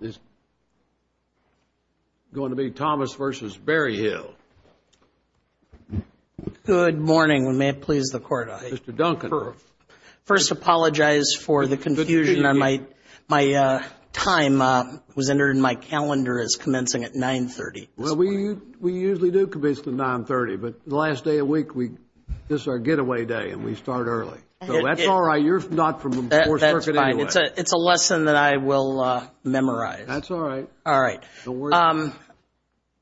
is going to be Thomas versus Berryhill. Good morning, and may it please the Court. Mr. Duncan. First, I apologize for the confusion. My time was entered in my calendar as commencing at 9.30. Well, we usually do commence at 9.30, but the last day of the week, this is our getaway day, and we start early. So that's all right. You're not from the 4th Circuit anyway. It's a lesson that I will memorize. That's all right. All right.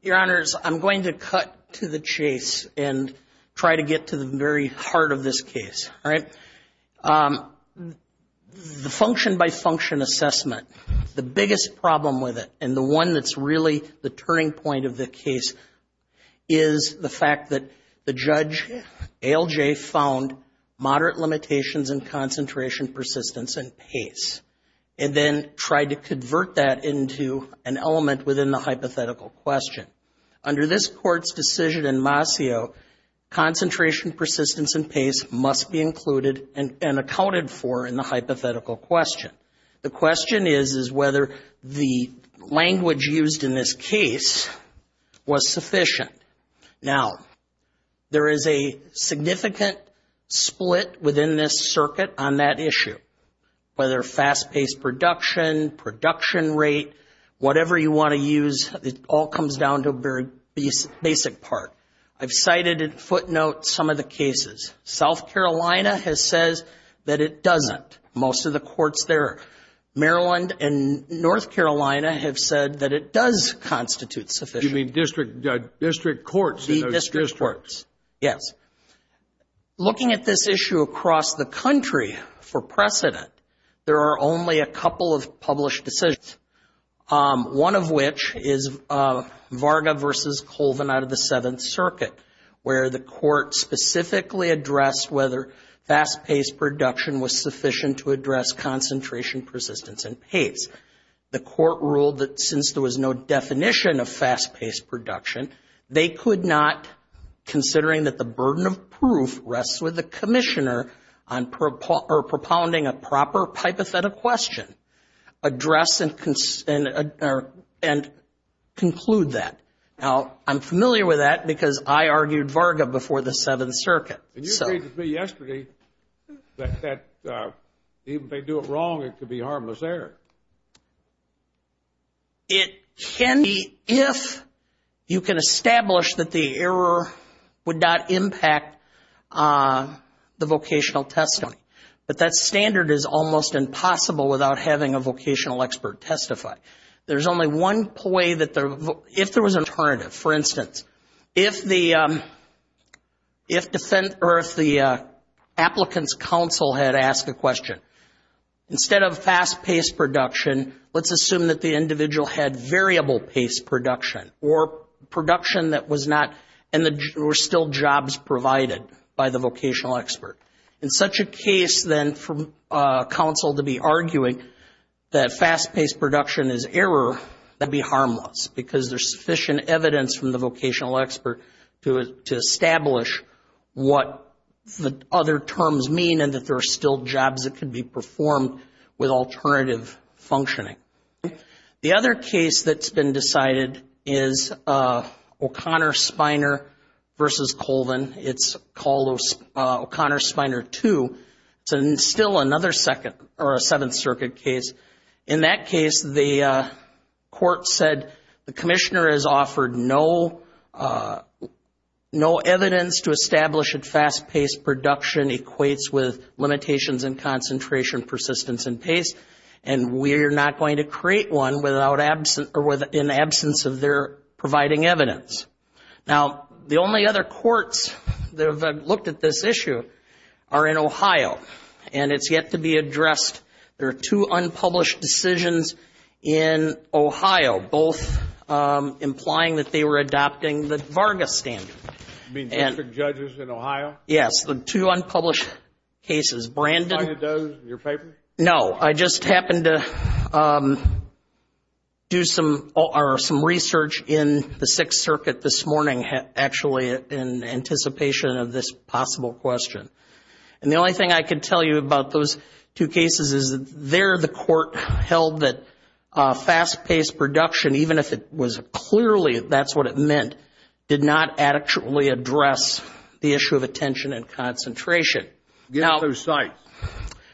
Your Honors, I'm going to cut to the chase and try to get to the very heart of this case, all right? The function-by-function assessment, the biggest problem with it, and the one that's really the turning point of the case, is the fact that the judge, ALJ, found moderate limitations in concentration, persistence, and pace, and then tried to convert that into an element within the hypothetical question. Under this Court's decision in Mascio, concentration, persistence, and pace must be included and accounted for in the hypothetical question. The question is, is whether the language used in this case was sufficient. Now, there is a significant split within this circuit on that issue, whether fast-paced production, production rate, whatever you want to use, it all comes down to a very basic part. I've cited in footnotes some of the cases. South Carolina has said that it doesn't. Most of the courts there, Maryland and North Carolina, have said that it does constitute sufficient. You mean district courts in those districts? The district courts, yes. Looking at this issue across the country for precedent, there are only a couple of published decisions, one of which is Varga v. Colvin out of the Seventh Circuit, where the court specifically addressed whether fast-paced production was sufficient to address concentration, persistence, and pace. The court ruled that since there was no definition of fast-paced production, they could not, considering that the burden of proof rests with the commissioner on propounding a proper hypothetical question, address and conclude that. Now, I'm familiar with that because I argued Varga before the Seventh Circuit. And you agreed with me yesterday that even if they do it wrong, it could be harmless error. It can be if you can establish that the error would not impact the vocational testimony. But that standard is almost impossible without having a vocational expert testify. There's only one way that if there was an alternative. For instance, if the applicants' counsel had asked a question, instead of fast-paced production, let's assume that the individual had variable-paced production or production that was not and were still jobs provided by the vocational expert. In such a case, then, for counsel to be arguing that fast-paced production is error, that'd be harmless because there's sufficient evidence from the vocational expert to establish what the other terms mean and that there are still jobs that could be performed with alternative functioning. The other case that's been decided is O'Connor-Spiner v. Colvin. It's called O'Connor-Spiner II. It's still another Seventh Circuit case. In that case, the court said the commissioner has offered no evidence to establish that fast-paced production equates with limitations in concentration, persistence, and pace, and we are not going to create one in absence of their providing evidence. Now, the only other courts that have looked at this issue are in Ohio, and it's yet to be addressed. There are two unpublished decisions in Ohio, both implying that they were adopting the Varga standard. You mean the different judges in Ohio? Yes, the two unpublished cases. Did you find those in your paper? No, I just happened to do some research in the Sixth Circuit this morning, actually, in anticipation of this possible question. And the only thing I can tell you about those two cases is there the court held that fast-paced production, even if it was clearly that's what it meant, did not actually address the issue of attention and concentration. Give us two sites.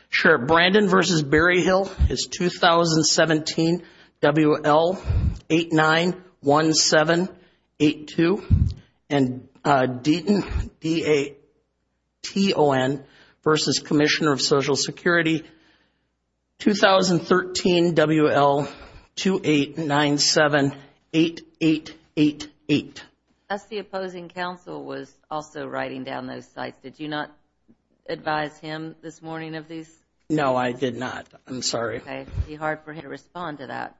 Sure. Brandon v. Berryhill is 2017 WL891782. And Deaton, D-A-T-O-N, v. Commissioner of Social Security, 2013 WL28978888. That's the opposing counsel was also writing down those sites. Did you not advise him this morning of these? No, I did not. I'm sorry. Okay. It would be hard for him to respond to that.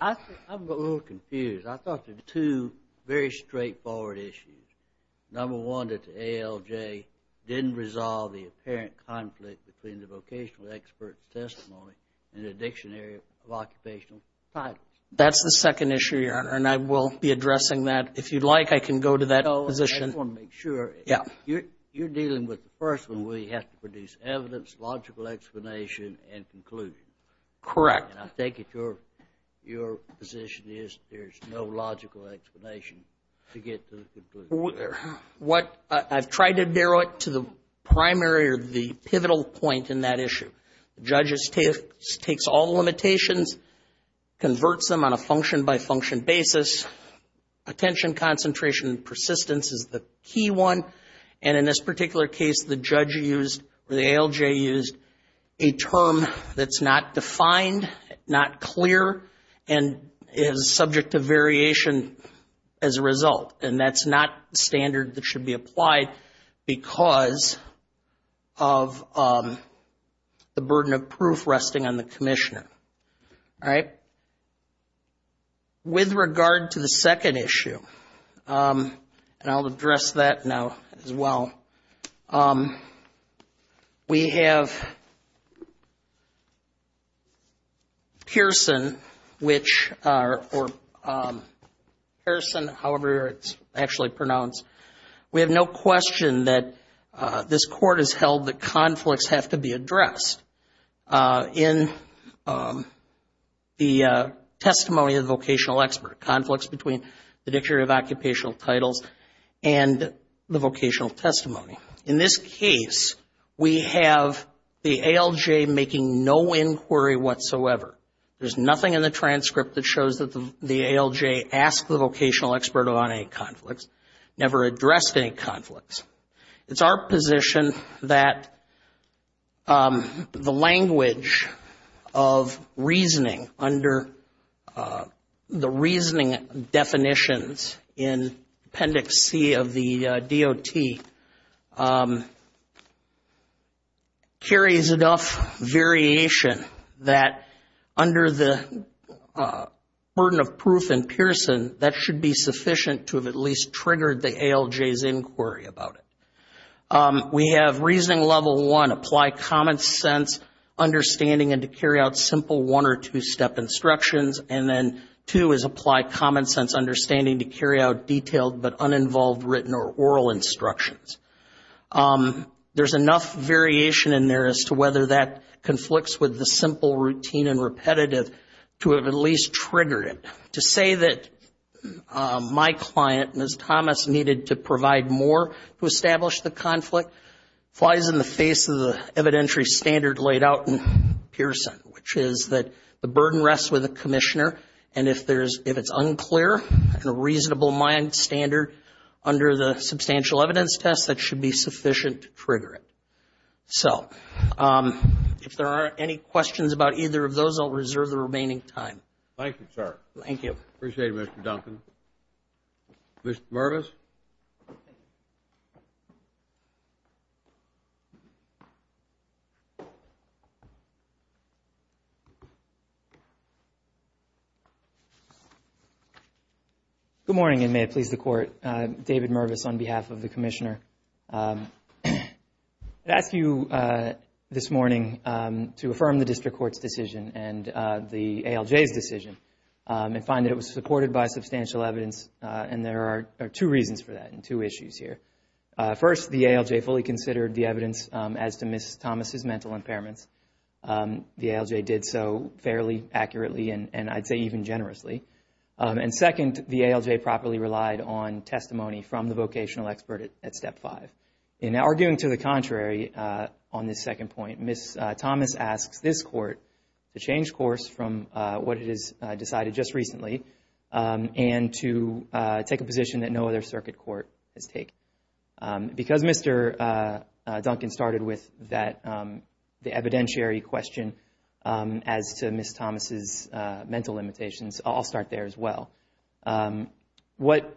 I'm a little confused. I thought there were two very straightforward issues. Number one, that the ALJ didn't resolve the apparent conflict between the vocational expert's testimony and the dictionary of occupational titles. That's the second issue, Your Honor, and I will be addressing that. If you'd like, I can go to that position. I just want to make sure. Yeah. You're dealing with the first one where you have to produce evidence, logical explanation, and conclusion. Correct. And I think your position is there's no logical explanation to get to the conclusion. I've tried to narrow it to the primary or the pivotal point in that issue. The judge takes all the limitations, converts them on a function-by-function basis. Attention, concentration, and persistence is the key one. And in this particular case, the judge used or the ALJ used a term that's not defined, not clear, and is subject to variation as a result. And that's not standard that should be applied because of the burden of proof resting on the commissioner. All right? With regard to the second issue, and I'll address that now as well, we have Pearson, however it's actually pronounced, we have no question that this court has held that conflicts have to be addressed. In the testimony of the vocational expert, conflicts between the Dictator of Occupational Titles and the vocational testimony. In this case, we have the ALJ making no inquiry whatsoever. There's nothing in the transcript that shows that the ALJ asked the vocational expert on any conflicts, never addressed any conflicts. It's our position that the language of reasoning under the reasoning definitions in Appendix C of the DOT carries enough variation that under the burden of proof in Pearson, that should be sufficient to have at least triggered the ALJ's inquiry about it. We have reasoning level one, apply common sense understanding and to carry out simple one or two-step instructions, and then two is apply common sense understanding to carry out detailed but uninvolved written or oral instructions. There's enough variation in there as to whether that conflicts with the simple routine and repetitive to have at least triggered it. To say that my client, Ms. Thomas, needed to provide more to establish the conflict, flies in the face of the evidentiary standard laid out in Pearson, which is that the burden rests with the Commissioner, and if it's unclear and a reasonable mind standard under the substantial evidence test, that should be sufficient to trigger it. So, if there are any questions about either of those, I'll reserve the remaining time. Thank you, sir. Thank you. Appreciate it, Mr. Duncan. Mr. Mervis? Good morning, and may it please the Court. David Mervis on behalf of the Commissioner. I'd ask you this morning to affirm the District Court's decision and the ALJ's decision and find that it was supported by substantial evidence, and there are two reasons for that and two issues here. First, the ALJ fully considered the evidence as to Ms. Thomas' mental impairments. The ALJ did so fairly accurately, and I'd say even generously. And second, the ALJ properly relied on testimony from the vocational expert at Step 5. In arguing to the contrary on this second point, Ms. Thomas asks this Court to change course from what it has decided just recently and to take a position that no other circuit court has taken. Because Mr. Duncan started with the evidentiary question as to Ms. Thomas' mental limitations, I'll start there as well. What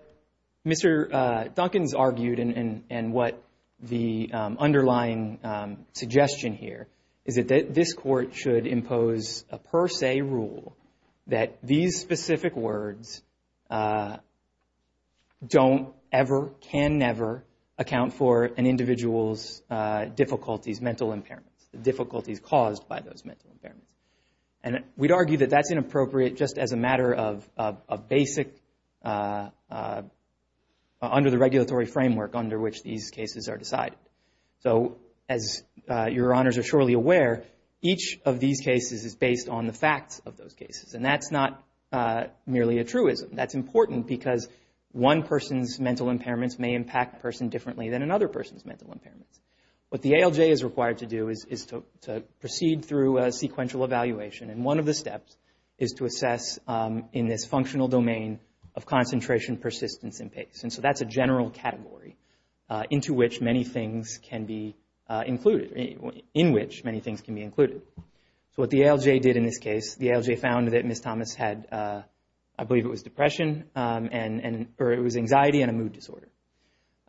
Mr. Duncan's argued and what the underlying suggestion here is that this Court should impose a per se rule that these specific words don't ever, can never, account for an individual's difficulties, mental impairments, the difficulties caused by those mental impairments. And we'd argue that that's inappropriate just as a matter of basic, under the regulatory framework under which these cases are decided. So as Your Honors are surely aware, each of these cases is based on the facts of those cases, and that's not merely a truism. That's important because one person's mental impairments may impact a person differently than another person's mental impairments. What the ALJ is required to do is to proceed through a sequential evaluation, and one of the steps is to assess in this functional domain of concentration, persistence, and pace. And so that's a general category into which many things can be included, in which many things can be included. So what the ALJ did in this case, the ALJ found that Ms. Thomas had, I believe it was depression, or it was anxiety and a mood disorder.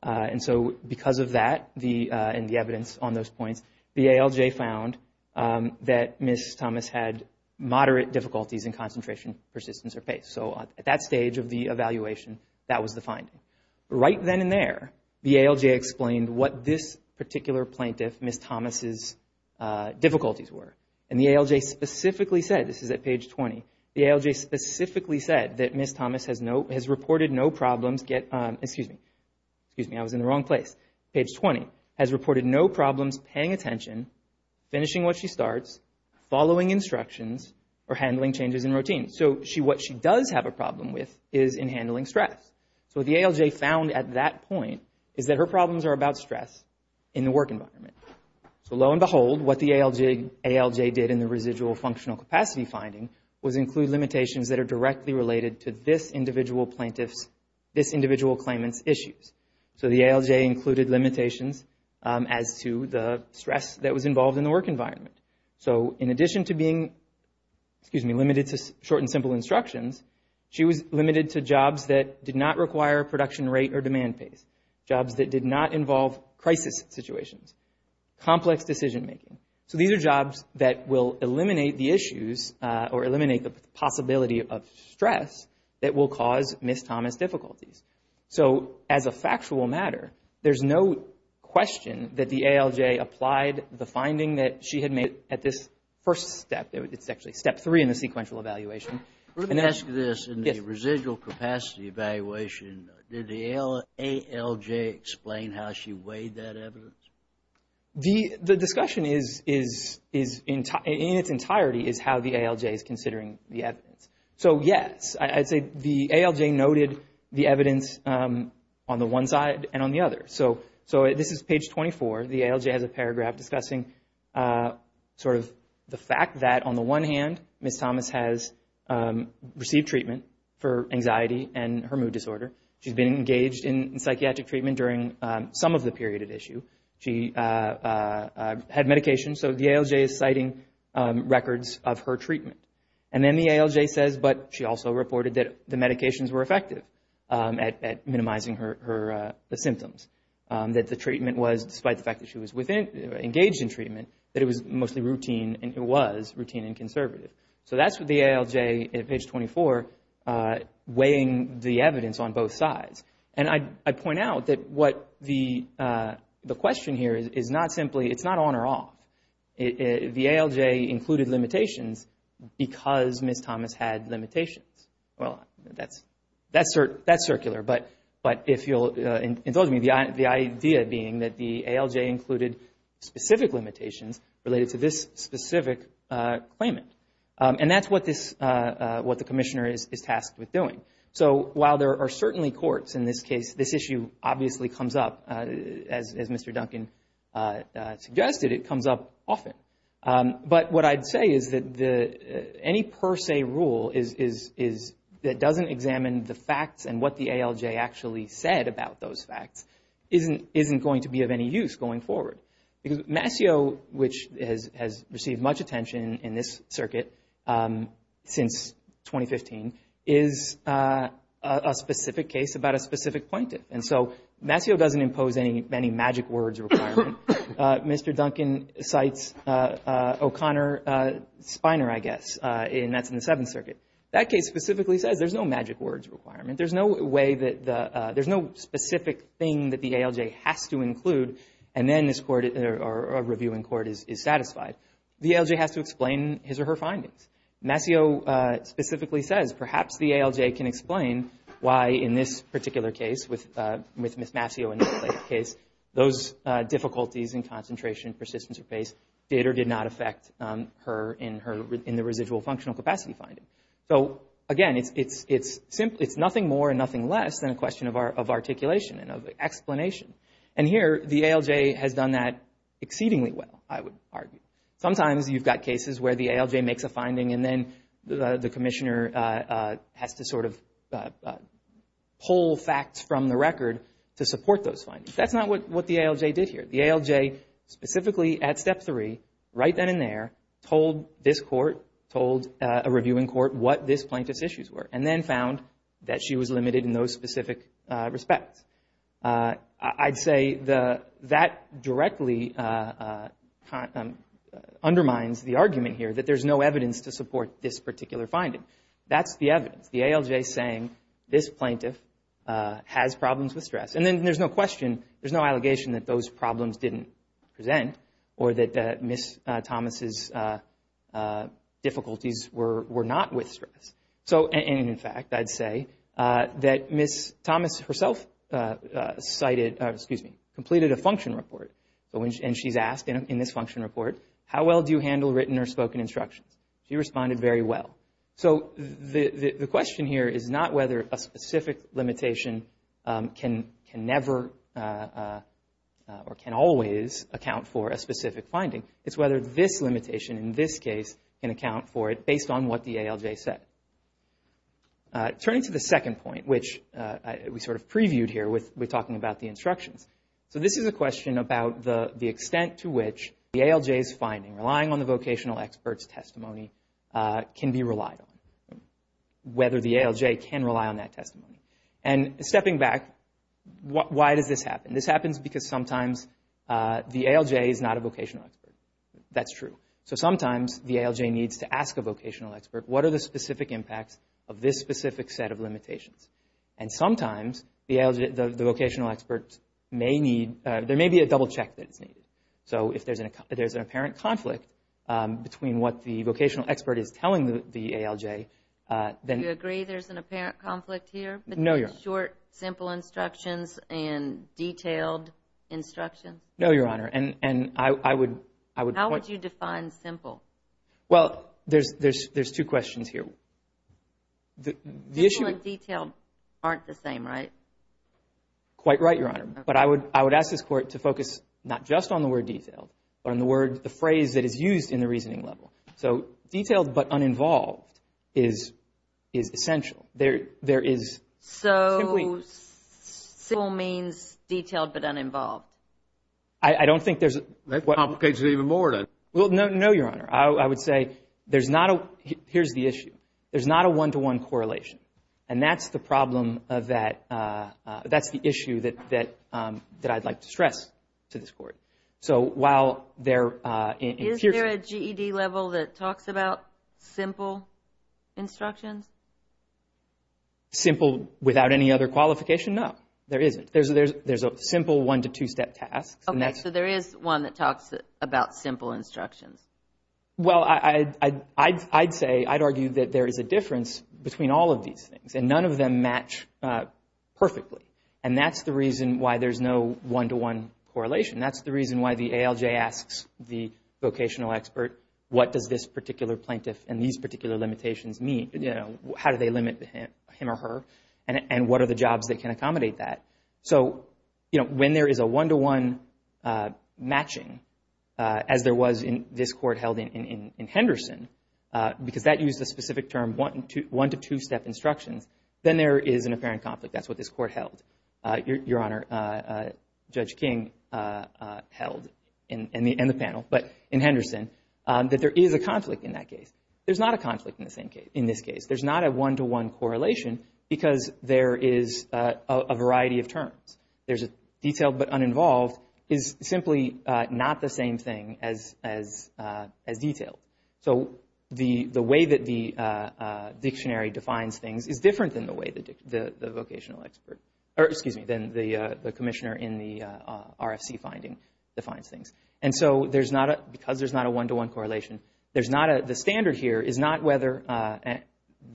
And so because of that and the evidence on those points, the ALJ found that Ms. Thomas had moderate difficulties in concentration, persistence, or pace. So at that stage of the evaluation, that was the finding. Right then and there, the ALJ explained what this particular plaintiff, Ms. Thomas' difficulties were. And the ALJ specifically said, this is at page 20, the ALJ specifically said that Ms. Thomas has reported no problems get, excuse me, excuse me, I was in the wrong place. Page 20, has reported no problems paying attention, finishing what she starts, following instructions, or handling changes in routine. So what she does have a problem with is in handling stress. So what the ALJ found at that point is that her problems are about stress in the work environment. So lo and behold, what the ALJ did in the residual functional capacity finding was include limitations that are directly related to this individual plaintiff's, this individual claimant's issues. So the ALJ included limitations as to the stress that was involved in the work environment. So in addition to being, excuse me, limited to short and simple instructions, she was limited to jobs that did not require production rate or demand pace. Jobs that did not involve crisis situations. Complex decision making. So these are jobs that will eliminate the issues or eliminate the possibility of stress that will cause Ms. Thomas' difficulties. So as a factual matter, there's no question that the ALJ applied the finding that she had made at this first step. It's actually step three in the sequential evaluation. Let me ask you this. Yes. In the residual capacity evaluation, did the ALJ explain how she weighed that evidence? The discussion is, in its entirety, is how the ALJ is considering the evidence. So, yes. I'd say the ALJ noted the evidence on the one side and on the other. So this is page 24. The ALJ has a paragraph discussing sort of the fact that, on the one hand, Ms. Thomas has received treatment for anxiety and her mood disorder. She's been engaged in psychiatric treatment during some of the period at issue. She had medication. So the ALJ is citing records of her treatment. And then the ALJ says, but she also reported that the medications were effective at minimizing the symptoms. That the treatment was, despite the fact that she was engaged in treatment, that it was mostly routine and it was routine and conservative. So that's what the ALJ, at page 24, weighing the evidence on both sides. And I'd point out that what the question here is not simply, it's not on or off. The ALJ included limitations because Ms. Thomas had limitations. Well, that's circular. But if you'll indulge me, the idea being that the ALJ included specific limitations related to this specific claimant. And that's what the commissioner is tasked with doing. So while there are certainly courts in this case, this issue obviously comes up, as Mr. Duncan suggested, it comes up often. But what I'd say is that any per se rule that doesn't examine the facts and what the ALJ actually said about those facts isn't going to be of any use going forward. Because Mascio, which has received much attention in this circuit since 2015, is a specific case about a specific plaintiff. And so Mascio doesn't impose any magic words requirement. Mr. Duncan cites O'Connor Spiner, I guess, and that's in the Seventh Circuit. That case specifically says there's no magic words requirement. There's no specific thing that the ALJ has to include, and then a reviewing court is satisfied. The ALJ has to explain his or her findings. Mascio specifically says perhaps the ALJ can explain why in this particular case, with Ms. Mascio in the later case, those difficulties in concentration, persistence, or pace, did or did not affect her in the residual functional capacity finding. So, again, it's nothing more and nothing less than a question of articulation and of explanation. And here, the ALJ has done that exceedingly well, I would argue. Sometimes you've got cases where the ALJ makes a finding, and then the commissioner has to sort of pull facts from the record to support those findings. That's not what the ALJ did here. The ALJ, specifically at Step 3, right then and there, told this court, told a reviewing court, what this plaintiff's issues were, and then found that she was limited in those specific respects. I'd say that directly undermines the argument here that there's no evidence to support this particular finding. That's the evidence. The ALJ is saying this plaintiff has problems with stress. And then there's no question, there's no allegation that those problems didn't present, or that Ms. Thomas' difficulties were not with stress. And, in fact, I'd say that Ms. Thomas herself completed a function report, and she's asked in this function report, how well do you handle written or spoken instructions? She responded, very well. So the question here is not whether a specific limitation can never or can always account for a specific finding. It's whether this limitation, in this case, can account for it based on what the ALJ said. Turning to the second point, which we sort of previewed here with talking about the instructions. So this is a question about the extent to which the ALJ's finding, relying on the vocational expert's testimony, can be relied on, whether the ALJ can rely on that testimony. And stepping back, why does this happen? This happens because sometimes the ALJ is not a vocational expert. That's true. So sometimes the ALJ needs to ask a vocational expert, what are the specific impacts of this specific set of limitations? And sometimes the vocational expert may need, there may be a double check that's needed. So if there's an apparent conflict between what the vocational expert is telling the ALJ, then- Do you agree there's an apparent conflict here? No, Your Honor. Between short, simple instructions and detailed instructions? No, Your Honor, and I would- How would you define simple? Well, there's two questions here. Simple and detailed aren't the same, right? Quite right, Your Honor. But I would ask this Court to focus not just on the word detailed, but on the phrase that is used in the reasoning level. So detailed but uninvolved is essential. So simple means detailed but uninvolved? I don't think there's- That complicates it even more, doesn't it? Well, no, Your Honor. I would say there's not a, here's the issue, there's not a one-to-one correlation. And that's the problem of that, that's the issue that I'd like to stress to this Court. So while there- Is there a GED level that talks about simple instructions? Simple without any other qualification? No, there isn't. There's a simple one-to-two-step task. Okay, so there is one that talks about simple instructions. Well, I'd say, I'd argue that there is a difference between all of these things, and none of them match perfectly. And that's the reason why there's no one-to-one correlation. That's the reason why the ALJ asks the vocational expert, what does this particular plaintiff and these particular limitations mean? How do they limit him or her? And what are the jobs that can accommodate that? So when there is a one-to-one matching, as there was in this Court held in Henderson, because that used a specific term, one-to-two-step instructions, then there is an apparent conflict. That's what this Court held. Your Honor, Judge King held, and the panel, but in Henderson, that there is a conflict in that case. There's not a conflict in this case. There's not a one-to-one correlation because there is a variety of terms. There's a detailed but uninvolved is simply not the same thing as detailed. So the way that the dictionary defines things is different than the way the vocational expert, or excuse me, than the commissioner in the RFC finding defines things. And so there's not a, because there's not a one-to-one correlation, there's not a, the standard here is not whether, and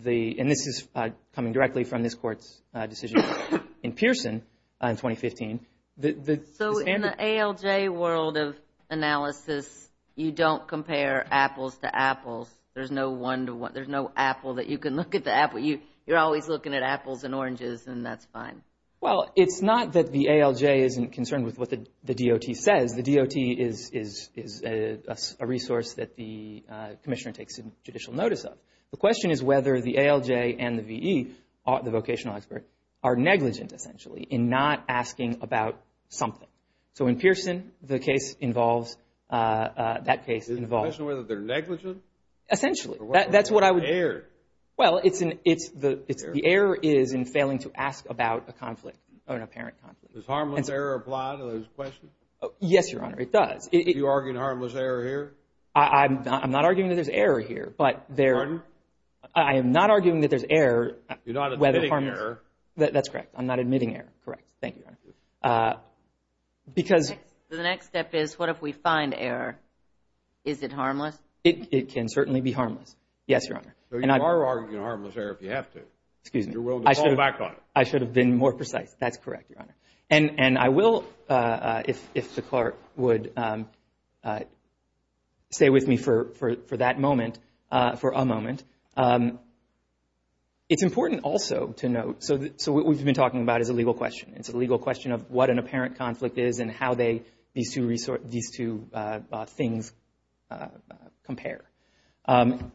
this is coming directly from this Court's decision in Pearson in 2015. So in the ALJ world of analysis, you don't compare apples to apples. There's no one-to-one, there's no apple that you can look at the apple. You're always looking at apples and oranges, and that's fine. Well, it's not that the ALJ isn't concerned with what the DOT says. The DOT is a resource that the commissioner takes judicial notice of. The question is whether the ALJ and the VE, the vocational expert, are negligent, essentially, in not asking about something. So in Pearson, the case involves, that case involves. Is the question whether they're negligent? Essentially, that's what I would. Error. Well, it's the error is in failing to ask about a conflict, an apparent conflict. Does harmless error apply to those questions? Yes, Your Honor, it does. Are you arguing harmless error here? I'm not arguing that there's error here, but there. Pardon? I am not arguing that there's error. You're not admitting error. That's correct. I'm not admitting error. Correct. Thank you, Your Honor. The next step is what if we find error? Is it harmless? It can certainly be harmless. Yes, Your Honor. So you are arguing harmless error if you have to. Excuse me. I should have been more precise. That's correct, Your Honor. And I will, if the clerk would stay with me for that moment, for a moment. It's important also to note, so what we've been talking about is a legal question. It's a legal question of what an apparent conflict is and how these two things compare.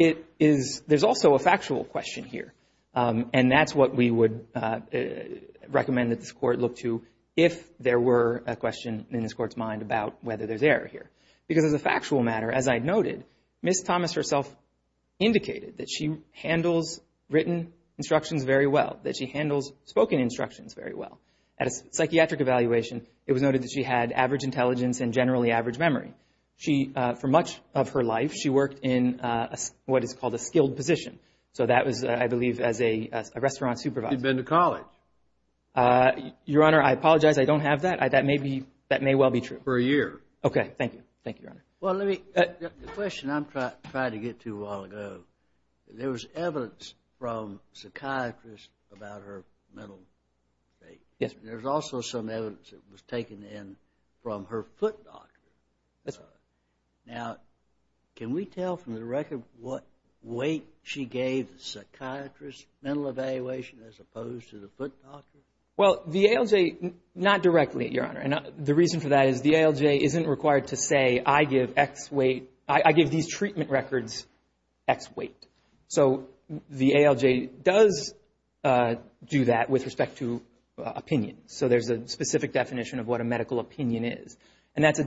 There's also a factual question here, and that's what we would recommend that this Court look to if there were a question in this Court's mind about whether there's error here. Because as a factual matter, as I noted, Ms. Thomas herself indicated that she handles written instructions very well, that she handles spoken instructions very well. At a psychiatric evaluation, it was noted that she had average intelligence and generally average memory. For much of her life, she worked in what is called a skilled position. So that was, I believe, as a restaurant supervisor. She'd been to college. Your Honor, I apologize. I don't have that. That may well be true. For a year. Okay. Thank you. Thank you, Your Honor. The question I'm trying to get to a while ago, there was evidence from a psychiatrist about her mental state. There's also some evidence that was taken in from her foot doctor. That's right. Now, can we tell from the record what weight she gave the psychiatrist, mental evaluation, as opposed to the foot doctor? Well, the ALJ, not directly, Your Honor. The reason for that is the ALJ isn't required to say, I give these treatment records X weight. So the ALJ does do that with respect to opinion. So there's a specific definition of what a medical opinion is. And that's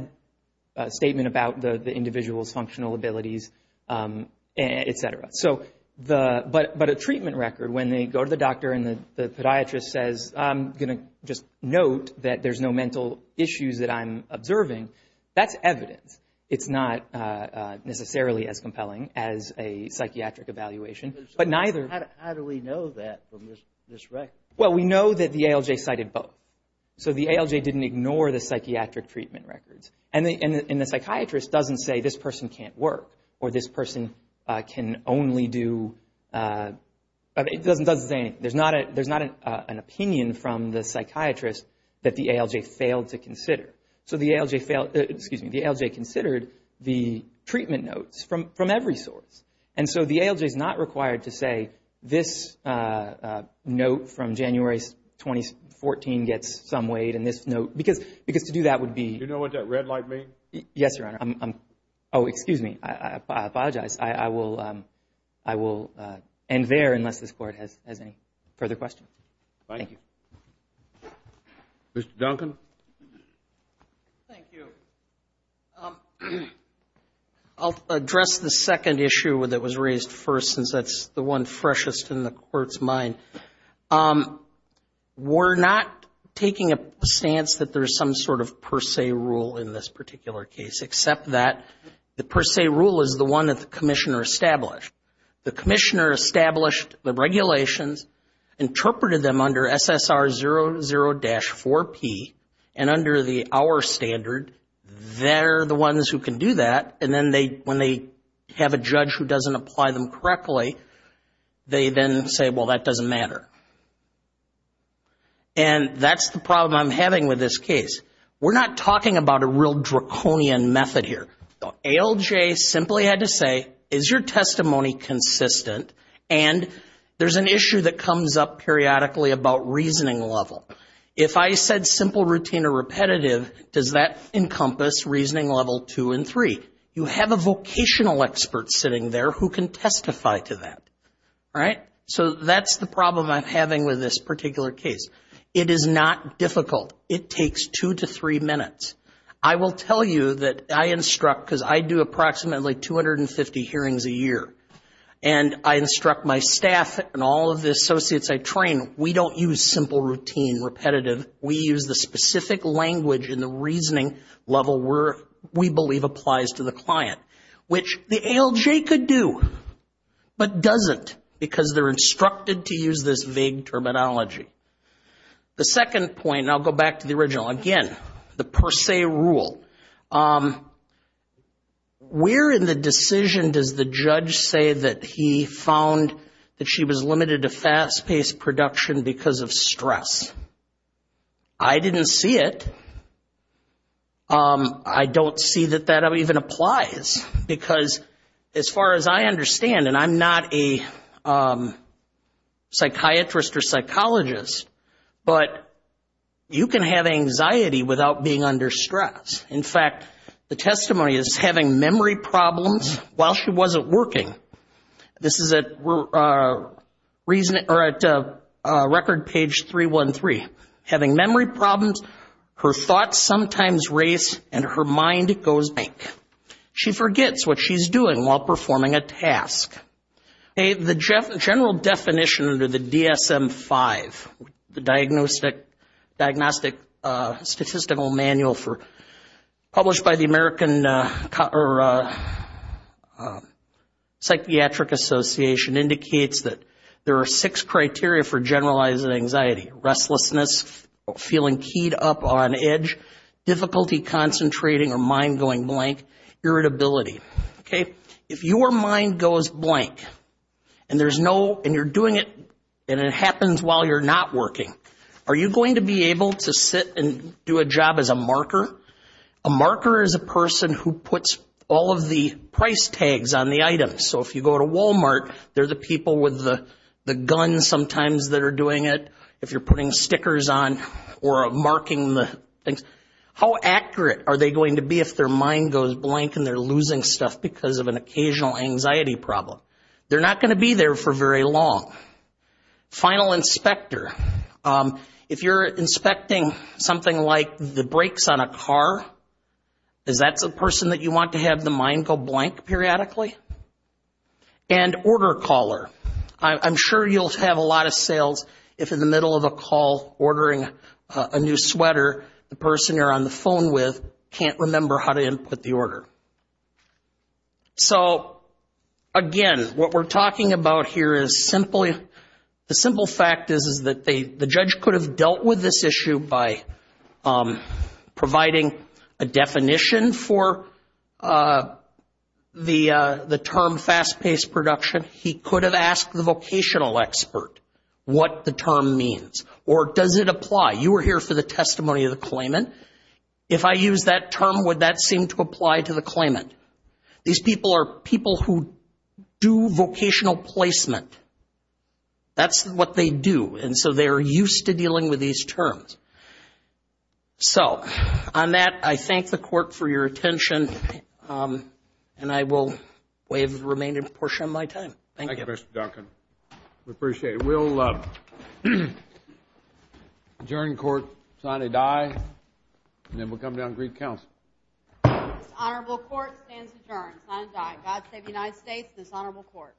a statement about the individual's functional abilities, et cetera. But a treatment record, when they go to the doctor and the podiatrist says, I'm going to just note that there's no mental issues that I'm observing, that's evidence. It's not necessarily as compelling as a psychiatric evaluation. How do we know that from this record? Well, we know that the ALJ cited both. So the ALJ didn't ignore the psychiatric treatment records. And the psychiatrist doesn't say, this person can't work, or this person can only do, it doesn't say anything. There's not an opinion from the psychiatrist that the ALJ failed to consider. So the ALJ considered the treatment notes from every source. And so the ALJ is not required to say, this note from January 2014 gets some weight in this note. Because to do that would be. Do you know what that red light means? Yes, Your Honor. Oh, excuse me. I apologize. I will end there unless this Court has any further questions. Thank you. Mr. Duncan. Thank you. I'll address the second issue that was raised first, since that's the one freshest in the Court's mind. We're not taking a stance that there's some sort of per se rule in this particular case, except that the per se rule is the one that the Commissioner established. The Commissioner established the regulations, interpreted them under SSR00-4P, and under our standard, they're the ones who can do that. And then when they have a judge who doesn't apply them correctly, they then say, well, that doesn't matter. And that's the problem I'm having with this case. We're not talking about a real draconian method here. The ALJ simply had to say, is your testimony consistent? And there's an issue that comes up periodically about reasoning level. If I said simple routine or repetitive, does that encompass reasoning level 2 and 3? You have a vocational expert sitting there who can testify to that, right? So that's the problem I'm having with this particular case. It is not difficult. It takes two to three minutes. I will tell you that I instruct, because I do approximately 250 hearings a year, and I instruct my staff and all of the associates I train, we don't use simple routine, repetitive. We use the specific language and the reasoning level we believe applies to the client, which the ALJ could do but doesn't because they're instructed to use this vague terminology. The second point, and I'll go back to the original again, the per se rule. Where in the decision does the judge say that he found that she was limited to fast-paced production because of stress? I didn't see it. I don't see that that even applies because as far as I understand, and I'm not a psychiatrist or psychologist, but you can have anxiety without being under stress. In fact, the testimony is having memory problems while she wasn't working. This is at record page 313. Having memory problems, her thoughts sometimes race, and her mind goes blank. She forgets what she's doing while performing a task. The general definition under the DSM-5, the Diagnostic Statistical Manual published by the American Psychiatric Association, indicates that there are six criteria for generalizing anxiety. Restlessness, feeling keyed up on edge, difficulty concentrating or mind going blank, irritability. If your mind goes blank and you're doing it and it happens while you're not working, are you going to be able to sit and do a job as a marker? A marker is a person who puts all of the price tags on the items. So if you go to Walmart, they're the people with the guns sometimes that are doing it, if you're putting stickers on or marking the things. How accurate are they going to be if their mind goes blank and they're losing stuff because of an occasional anxiety problem? They're not going to be there for very long. Final inspector. If you're inspecting something like the brakes on a car, is that the person that you want to have the mind go blank periodically? And order caller. I'm sure you'll have a lot of sales if in the middle of a call ordering a new sweater, the person you're on the phone with can't remember how to input the order. So again, what we're talking about here is simply, the simple fact is that the judge could have dealt with this issue by providing a definition for the term fast-paced production. He could have asked the vocational expert what the term means. Or does it apply? You were here for the testimony of the claimant. If I use that term, would that seem to apply to the claimant? These people are people who do vocational placement. That's what they do. And so they're used to dealing with these terms. So on that, I thank the Court for your attention. And I will waive the remaining portion of my time. Thank you. Thank you, Mr. Duncan. We appreciate it. We'll adjourn court, sign a die, and then we'll come down and greet counsel. This honorable court stands adjourned. Signed, die. God save the United States and this honorable court.